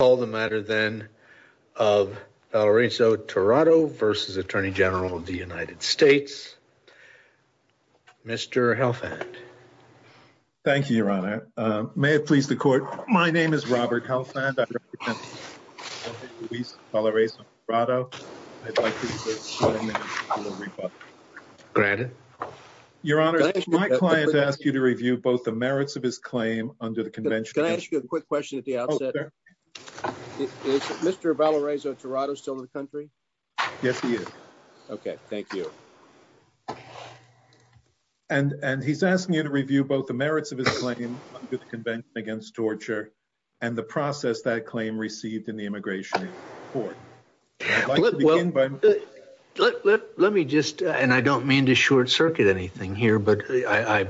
Mr. Helfand. Thank you, your honor. May it please the court. My name is Robert Helfand. I represent the police of Valarezo-Tirado. I'd like to use this moment to give a little rebuttal. Granted. Your honor, my client asked you to review both the merits of his claim under the convention. Can I ask you a quick question at the outset? Oh, sure. Is Mr. Valarezo-Tirado still in the country? Yes, he is. Okay. Thank you. And he's asking you to review both the merits of his claim under the convention against torture and the process that claim received in the immigration court. Let me just, and I don't mean to short circuit anything here, but I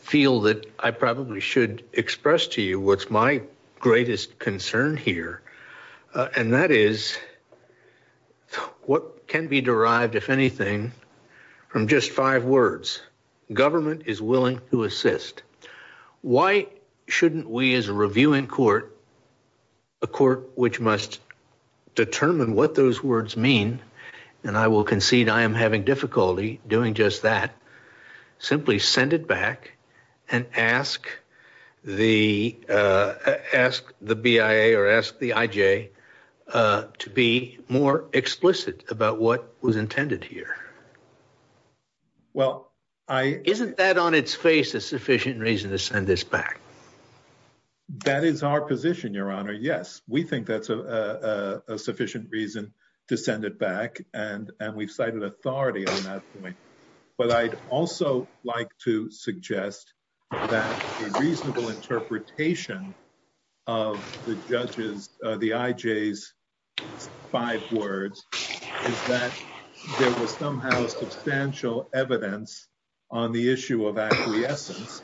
feel that I probably should express to you what's my greatest concern. And that is what can be derived, if anything, from just five words. Government is willing to assist. Why shouldn't we as a review in court, a court which must determine what those words mean, and I will concede I am having difficulty doing just that, simply send it back and ask the BIA to review both the merits of his claim. Well, I don't think that's a sufficient reason to send it back. I think it's a sufficient reason to ask the BIA or ask the IJ to be more explicit about what was intended here. Isn't that on its face a sufficient reason to send this back? That is our position, your honor. Yes. We think that's a sufficient reason to send it back. And we've cited authority on that point. But I'd also like to suggest that a reasonable interpretation of the judge's, the IJ's five words is that there was somehow substantial evidence on the issue of acquiescence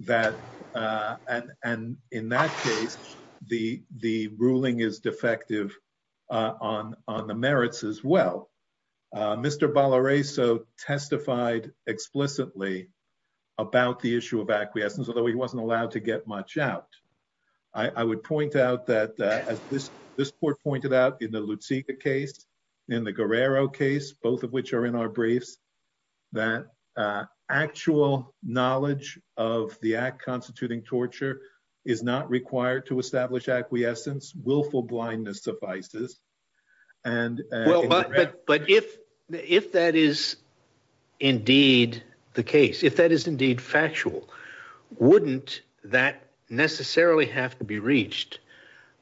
that, and in that case, the ruling is defective on the merits as well. Mr. Balareso testified explicitly about the issue of acquiescence, although he wasn't allowed to get much out. I would point out that as this court pointed out in the Lutsika case, in the Guerrero case, both of which are in our briefs, that actual knowledge of the act constituting torture is not required to establish acquiescence. Willful blindness suffices. But if that is indeed the case, if that is indeed factual, wouldn't that necessarily have to be reached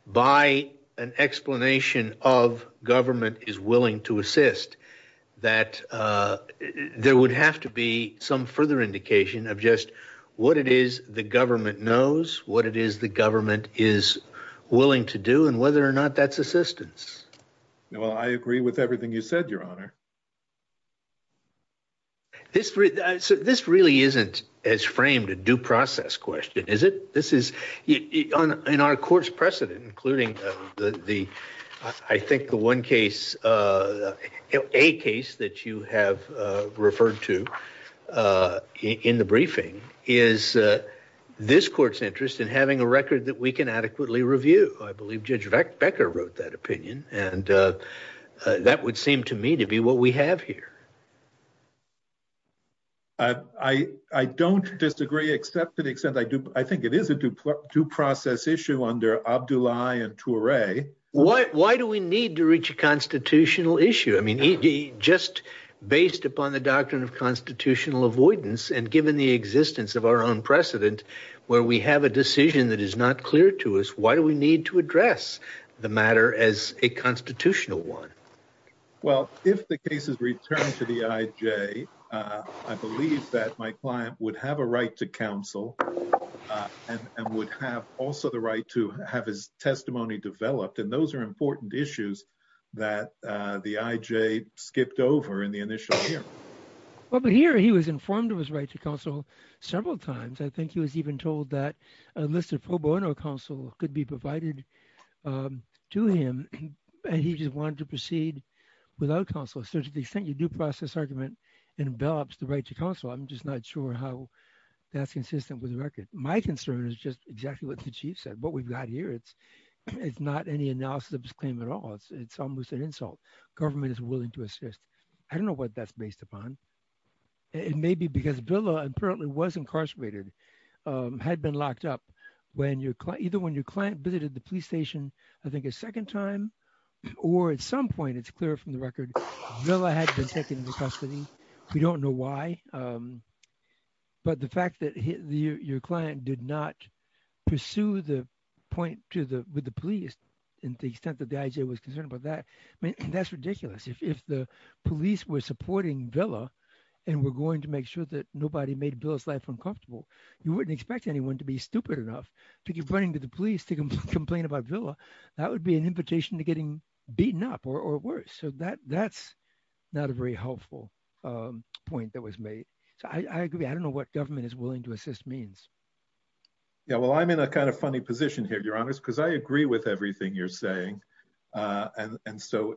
by an explanation of government is willing to assist that there would have to be some further indication of just what it is the government knows, what it is the government is willing to do, and whether or not that's assistance. Well, I agree with everything you said, Your Honor. This really isn't as framed a due process question, is it? This is in our court's precedent, including the I think the one case, a case that you have referred to in the briefing, is this court's interest in having a record that we can adequately review. I believe Judge Becker wrote that opinion, and that would seem to me to be what we have here. I don't disagree, except to the extent I do. I think it is a due process issue under Abdullahi and Toure. Why do we need to reach a constitutional issue? I mean, just based upon the doctrine of constitutional avoidance and given the existence of our own precedent, where we have a decision that is not clear to us, why do we need to address the matter as a constitutional one? Well, if the case is returned to the IJ, I believe that my client would have a right to counsel and would have also the right to have his testimony developed, and those are important issues that the IJ skipped over in the initial hearing. Well, but here he was informed of his right to counsel several times. I think he was even told that a list of pro bono counsel could be provided to him, and he just wanted to proceed without counsel. So to the extent your due process argument envelops the right to counsel, I'm just not sure how that's consistent with the record. My concern is just exactly what the Chief said. What we've got here, it's not any analysis of this claim at all. It's almost an insult. Government is willing to assist. I don't know what that's based upon. It may be because Villa apparently was incarcerated, had been locked up, either when your client visited the police station, I think a second time, or at some point, it's clear from the record, Villa had been taken into custody. We don't know why. But the fact that your client did not pursue the point with the police and the extent that the IJ was concerned about that, I mean, that's ridiculous. If the police were supporting Villa and were going to make sure that nobody made Villa's life uncomfortable, you wouldn't expect anyone to be stupid enough to keep running to the police to complain about Villa. That would be an invitation to getting beaten up or worse. So that's not a very helpful point that was made. So I agree. I don't know what government is willing to assist means. Yeah, well, I'm in a kind of funny position here, Your Honor, because I agree with everything you're saying. And so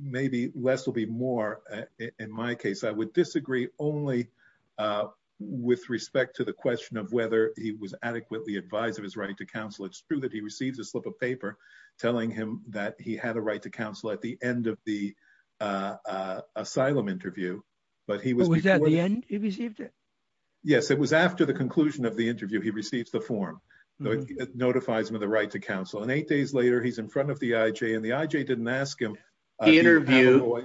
maybe less will be more. In my case, I would disagree only with respect to the question of whether he was adequately advised of his right to counsel. It's true that he receives a slip of paper telling him that he had a right to counsel at the end of the asylum interview. Was that the end? He received it? Yes, it was after the conclusion of the interview. He receives the form that notifies him of the right to counsel. And eight days later, he's in front of the IJ and the IJ didn't ask him. The interview.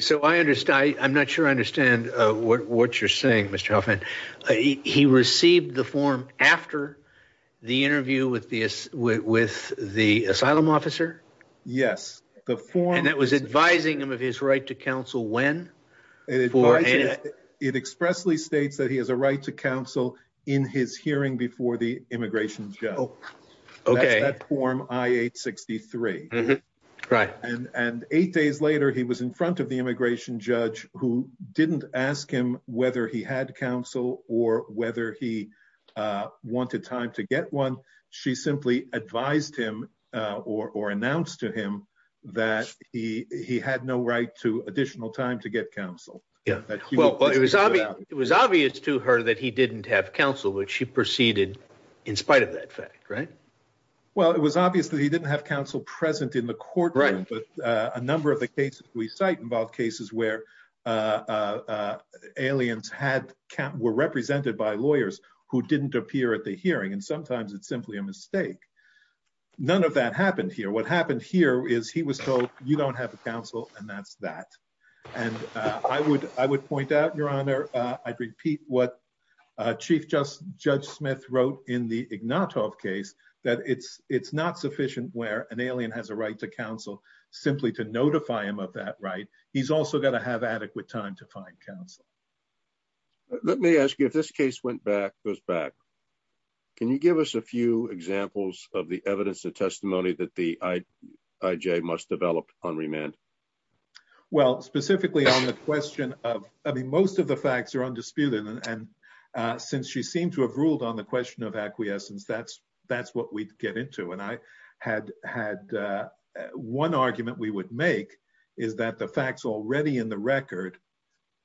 So I understand. I'm not sure I understand what you're saying, Mr. Hoffman. He received the form after the interview with the with the asylum officer. Yes, the form that was advising him of his right to counsel when it expressly states that he has a right to counsel in his hearing before the immigration. Oh, OK. Form I-863. Right. And eight days later, he was in front of the immigration judge who didn't ask him whether he had counsel or whether he wanted time to get one. She simply advised him or announced to him that he he had no right to additional time to get counsel. Yeah, well, it was obvious to her that he didn't have counsel, which she proceeded in spite of that fact. Right. Well, it was obvious that he didn't have counsel present in the courtroom. Right. But a number of the cases we cite involve cases where aliens had camp were represented by lawyers who didn't appear at the hearing. And sometimes it's simply a mistake. None of that happened here. What happened here is he was told, you don't have a counsel and that's that. And I would I would point out, Your Honor, I'd repeat what Chief Justice Judge Smith wrote in the Ignatov case that it's it's not sufficient where an alien has a right to counsel simply to notify him of that. Right. He's also going to have adequate time to find counsel. Let me ask you if this case went back, goes back. Can you give us a few examples of the evidence and testimony that the IJ must develop on remand? Well, specifically on the question of I mean, most of the facts are undisputed. And since she seemed to have ruled on the question of acquiescence, that's that's what we get into. And I had had one argument we would make is that the facts already in the record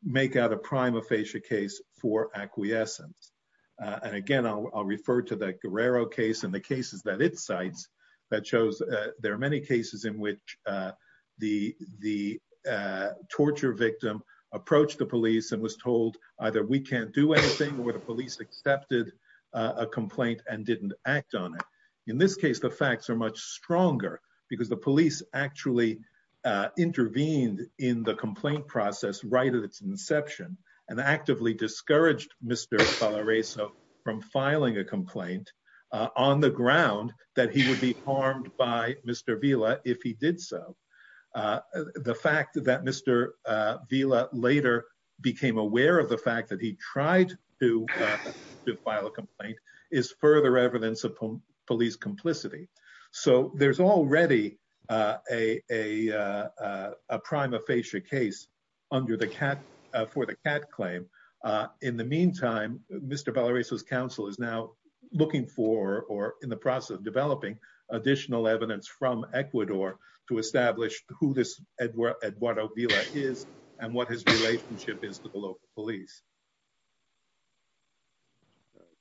make out a prima facie case for acquiescence. And again, I'll refer to the Guerrero case and the cases that it cites that shows there are many cases in which the the torture victim approached the police and was told either we can't do anything or the police accepted a complaint and didn't act on it. In this case, the facts are much stronger because the police actually intervened in the complaint process right at its inception and actively discouraged Mr. from filing a complaint on the ground that he would be harmed by Mr. Villa if he did so. The fact that Mr. Villa later became aware of the fact that he tried to file a complaint is further evidence of police complicity. So there's already a a prima facie case under the cat for the cat claim. In the meantime, Mr. Valerio's counsel is now looking for or in the process of developing additional evidence from Ecuador to establish who this Edwardo Villa is and what his relationship is to the local police.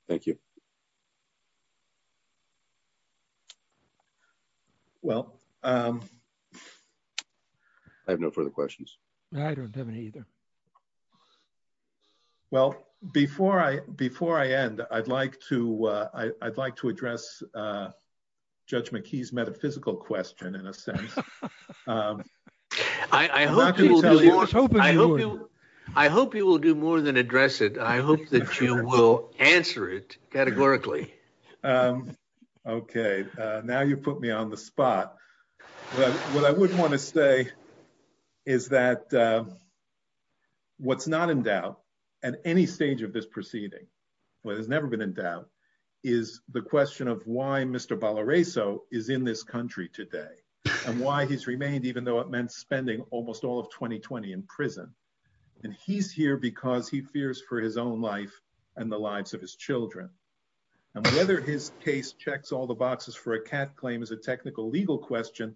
Thank you. Well, I have no further questions. I don't have any either. Well, before I before I end, I'd like to I'd like to address Judge McKee's metaphysical question in a sense. I hope I hope you will do more than address it. I hope that you will answer it categorically. Okay, now you put me on the spot. But what I would want to say is that what's not in doubt at any stage of this proceeding, what has never been in doubt is the question of why Mr. Valerio is in this country today and why he's remained, even though it meant spending almost all of 2020 in prison. And he's here because he fears for his own life and the lives of his children and whether his case checks all the boxes for a cat claim is a technical legal question.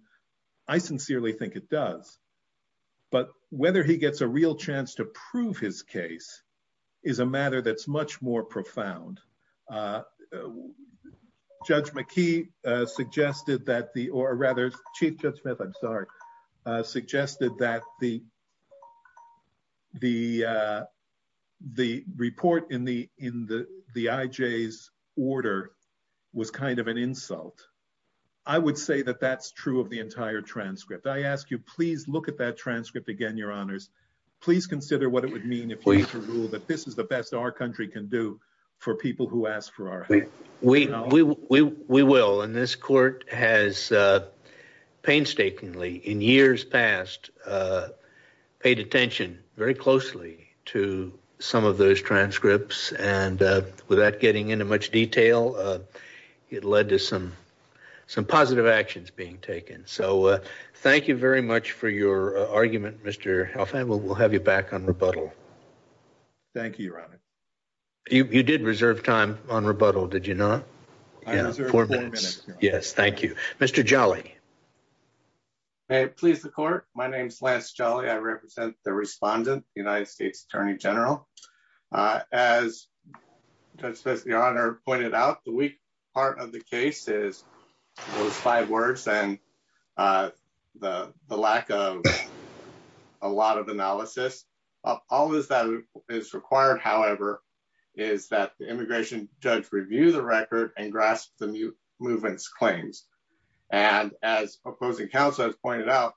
I sincerely think it does. But whether he gets a real chance to prove his case is a matter that's much more profound. Judge McKee suggested that the or rather Chief Judge Smith, I'm sorry, suggested that the the the report in the in the the IJ's order was kind of an insult. I would say that that's true of the entire transcript. I ask you, please look at that transcript again, your honors. Please consider what it would mean if we rule that this is the best our country can do for people who ask for our help. We we we will. And this court has painstakingly in years past paid attention very closely to some of those transcripts. And without getting into much detail, it led to some some positive actions being taken. So thank you very much for your argument, Mr. Hoffman. We'll have you back on rebuttal. Thank you, Ron. You did reserve time on rebuttal, did you not? Four minutes. Yes. Thank you, Mr. Jolly. Please, the court. My name's Lance Jolly. I represent the respondent, the United States attorney general. As the honor pointed out, the weak part of the case is those five words and the lack of a lot of analysis. All is that is required, however, is that the immigration judge review the record and grasp the movements claims. And as opposing counsel has pointed out,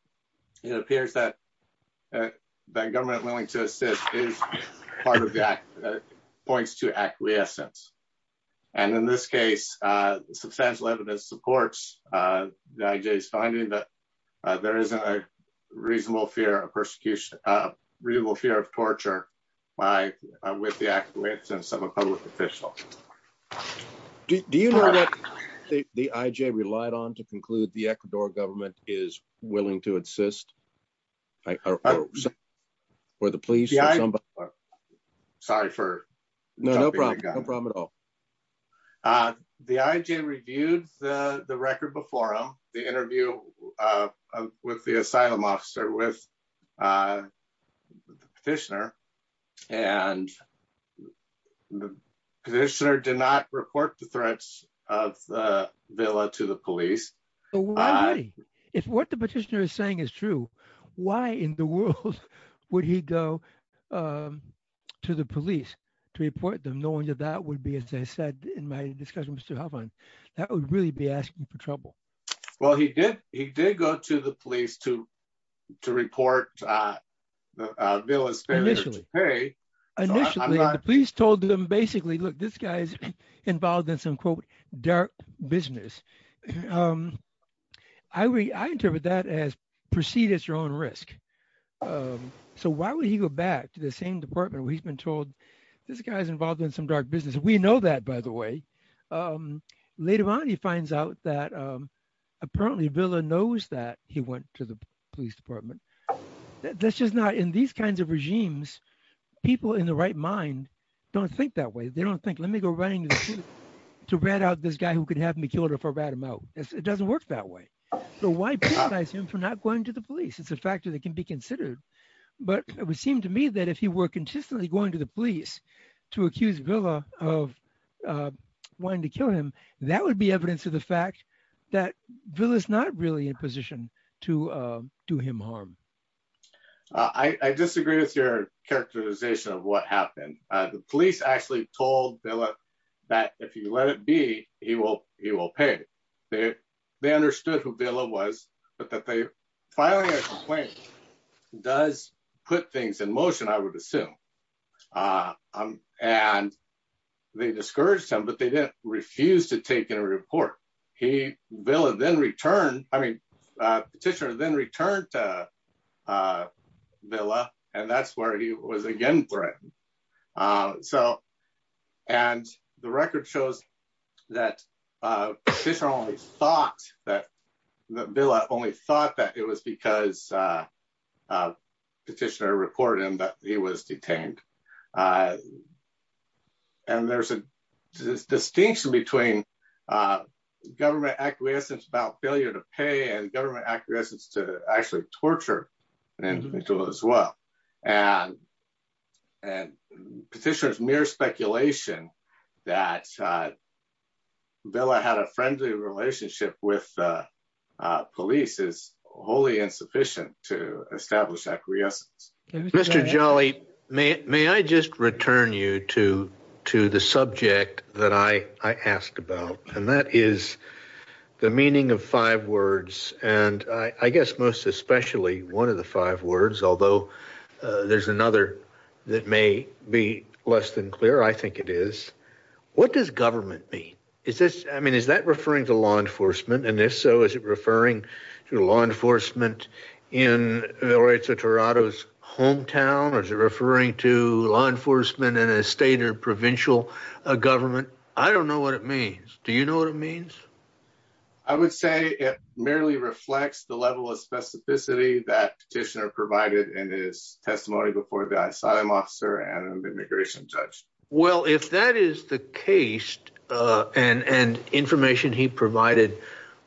it appears that the government willing to assist is part of that points to acquiescence. And in this case, substantial evidence supports the finding that there is a reasonable fear of persecution, real fear of torture by with the acquiescence of a public official. Do you know that the IJ relied on to conclude the Ecuador government is willing to insist. Or the police. Sorry for no problem. No problem at all. The IJ reviewed the record before the interview with the asylum officer with the petitioner. And the petitioner did not report the threats of the villa to the police. If what the petitioner is saying is true, why in the world would he go to the police to report them, knowing that that would be, as I said in my discussions to have on that would really be asking for trouble. Well, he did, he did go to the police to to report the bill is initially a police told them basically look this guy's involved in some quote dark business. I read I interpret that as proceed at your own risk. So why would he go back to the same department we've been told this guy's involved in some dark business we know that by the way. Later on, he finds out that apparently villain knows that he went to the police department. That's just not in these kinds of regimes. People in the right mind. Don't think that way they don't think let me go running to read out this guy who could have me killed her for read him out, it doesn't work that way. I assume for not going to the police it's a factor that can be considered, but it would seem to me that if you were consistently going to the police to accuse villa of wanting to kill him. That would be evidence of the fact that bill is not really in position to do him harm. I disagree with your characterization of what happened. The police actually told that if you let it be, he will, he will pay. They, they understood who Villa was, but that they finally does put things in motion I would assume. And they discouraged him but they didn't refuse to take a report. He will have then return, I mean, petitioner then return to Villa, and that's where he was again. So, and the record shows that this only thought that the bill I only thought that it was because petitioner reported that he was detained. And there's a distinction between government acquiescence about failure to pay and government acquiescence to actually torture, and as well. And, and petitioners mere speculation that Bella had a friendly relationship with police is wholly insufficient to establish Mr. Jolly, may, may I just return you to, to the subject that I asked about, and that is the meaning of five words, and I guess most especially one of the five words, although there's another that may be less than clear I think it is. What does government be. Is this, I mean is that referring to law enforcement and if so is it referring to law enforcement in the rates of Toronto's hometown or referring to law enforcement in a state or provincial government. I don't know what it means. Do you know what it means. I would say it merely reflects the level of specificity that petitioner provided in his testimony before the asylum officer and immigration judge. Well, if that is the case, and and information he provided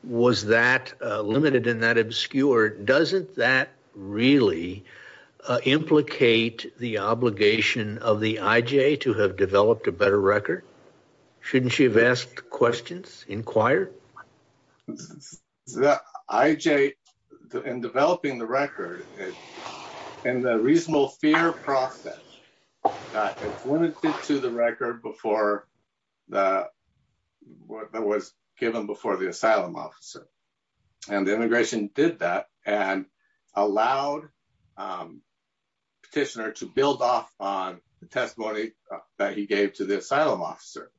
was that limited in that obscure doesn't that really implicate the obligation of the IJ to have developed a better record. Shouldn't you have asked questions inquired. IJ in developing the record. And the reasonable fear process to the record before that was given before the asylum officer, and the immigration did that, and allowed petitioner to build off on the testimony that he gave to the asylum officer.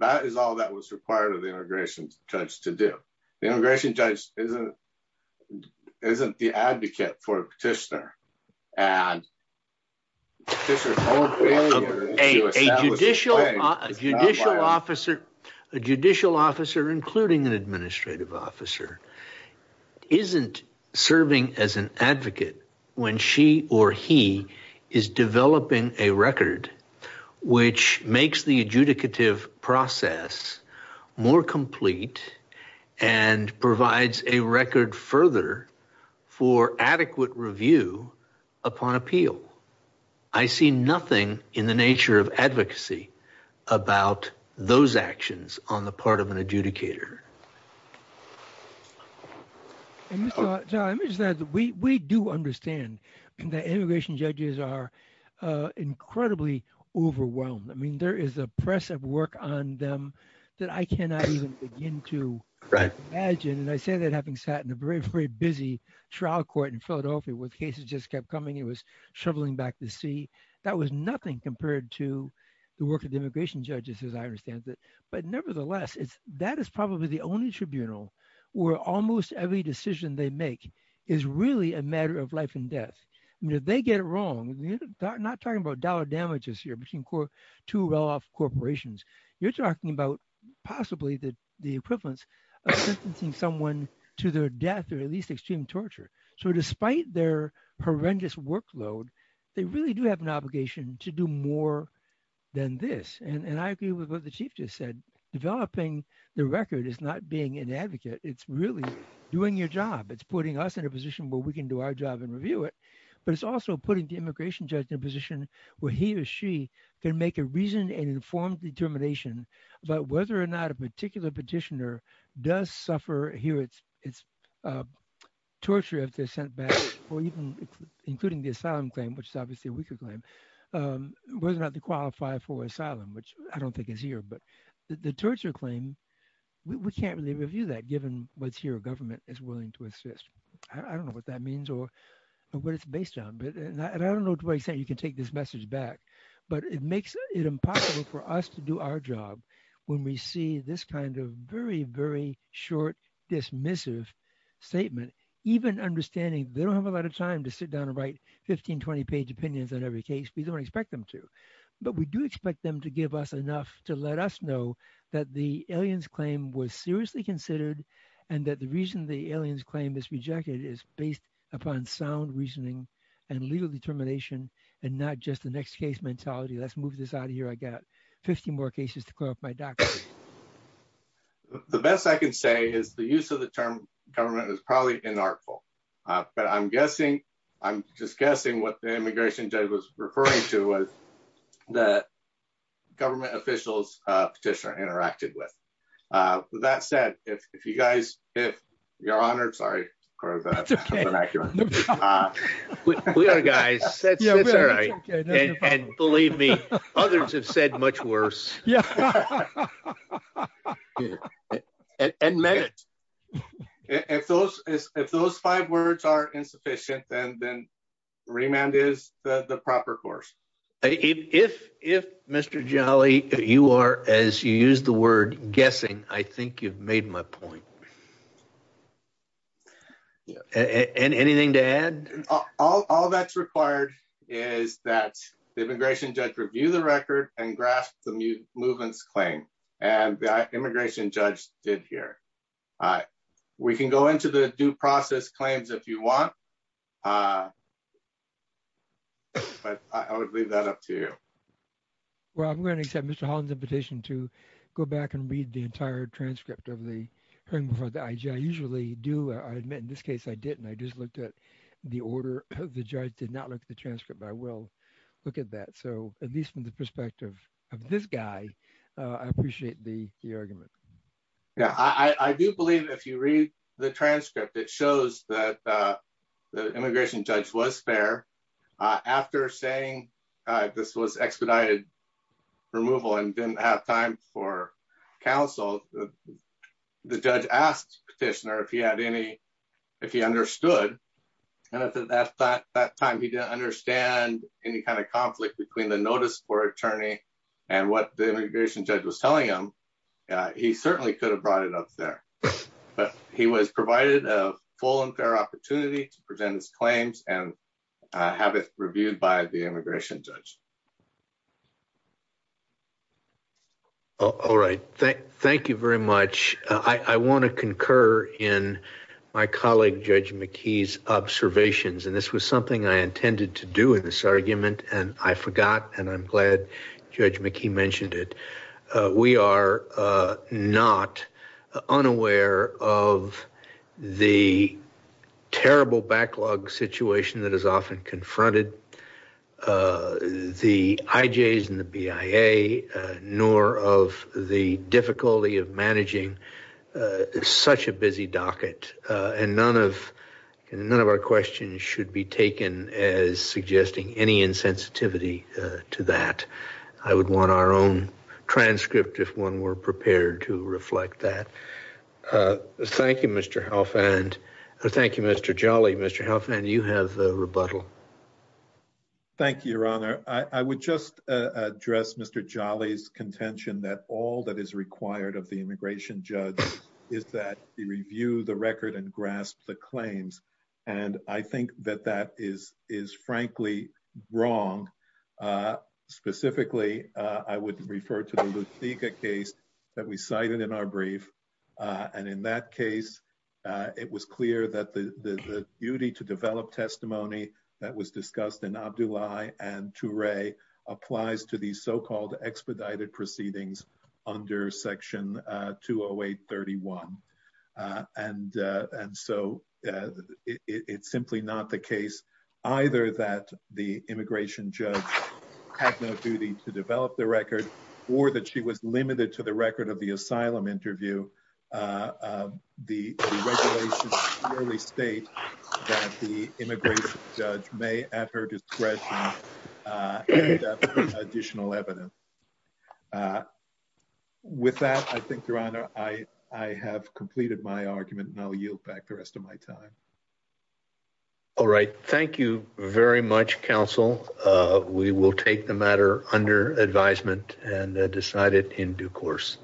That is all that was required of the immigration judge to do the immigration judge isn't isn't the advocate for a petitioner, and this is a judicial judicial officer, a judicial officer including an administrative officer isn't serving as an advocate. When she or he is developing a record, which makes the adjudicative process more complete and provides a record further for adequate review upon appeal. I see nothing in the nature of advocacy about those actions on the part of an adjudicator. We do understand that immigration judges are incredibly overwhelmed I mean there is a press of work on them that I cannot even begin to imagine and I say that having sat in a very, very busy trial court in Philadelphia with cases just kept coming it was where almost every decision they make is really a matter of life and death. They get it wrong, not talking about dollar damages here between core to well off corporations, you're talking about, possibly the, the prevalence of someone to their death or at least extreme torture. So despite their horrendous workload. They really do have an obligation to do more than this and I agree with what the chief just said, developing the record is not being an advocate, it's really doing your job it's putting us in a position where we can do our job and review it, but it's also putting the immigration judge in a position where he or she can make a reason and informed determination about whether or not a particular petitioner does suffer here it's it's torture if they're sent back, or even including the asylum claim which obviously we could claim was not to qualify for asylum which I don't think is here but the torture claim. We can't really review that given what's here government is willing to assist. I don't know what that means or what it's based on but I don't know to what extent you can take this message back, but it makes it impossible for us to do our job. When we see this kind of very very short dismissive statement, even understanding, they don't have a lot of time to sit down and write 1520 page opinions on every case we don't expect them to. But we do expect them to give us enough to let us know that the aliens claim was seriously considered, and that the reason the aliens claim is rejected is based upon sound reasoning and legal determination, and not just the next case mentality let's move this The best I can say is the use of the term government is probably an artful, but I'm guessing. I'm just guessing what the immigration judge was referring to was the government officials petitioner interacted with that said, if you guys, if you're honored sorry. That's okay. Guys. Believe me, others have said much worse. Yeah. And men. If those, if those five words are insufficient and then remand is the proper course. If, if Mr jolly, you are as you use the word guessing, I think you've made my point. Anything to add. All that's required is that the immigration judge review the record and grasp the movements claim and immigration judge did here. We can go into the due process claims if you want. But I would leave that up to you. Well, I'm going to accept Mr Holland's invitation to go back and read the entire transcript of the thing for the I usually do I admit in this case I didn't I just looked at the order of the judge did not like the transcript I will look at that so at least from the perspective of this guy. I appreciate the argument. Yeah, I do believe if you read the transcript it shows that the immigration judge was fair. After saying this was expedited removal and didn't have time for counsel. The judge asked petitioner if he had any. If he understood that that that time he didn't understand any kind of conflict between the notice for attorney, and what the immigration judge was telling him. He certainly could have brought it up there. But he was provided a full and fair opportunity to present his claims and have it reviewed by the immigration judge. All right. Thank you very much. I want to concur in my colleague judge McKee's observations and this was something I intended to do in this argument, and I forgot and I'm glad judge McKee mentioned it. We are not unaware of the terrible backlog situation that is often confronted the IJs and the BIA, nor of the difficulty of managing such a busy docket, and none of none of our questions should be taken as suggesting any insensitivity to that. I would want our own transcript if one were prepared to reflect that. Thank you, Mr. Hoffman. Thank you, Mr. Jolly Mr. Hoffman you have rebuttal. Thank you, Your Honor, I would just address Mr. Jolly's contention that all that is required of the immigration judge is that the review the record and grasp the claims. And I think that that is, is frankly wrong. Specifically, I would refer to the case that we cited in our brief. And in that case, it was clear that the duty to develop testimony that was discussed in our July, and to Ray applies to these so called expedited proceedings under section 208 31. And, and so, it's simply not the case, either that the immigration judge has no duty to develop the record, or that she was limited to the record of the asylum interview. The state that the immigration judge may at her discretion. Additional evidence. With that, I think, Your Honor, I, I have completed my argument now yield back the rest of my time. All right, thank you very much counsel, we will take the matter under advisement and decided in due course.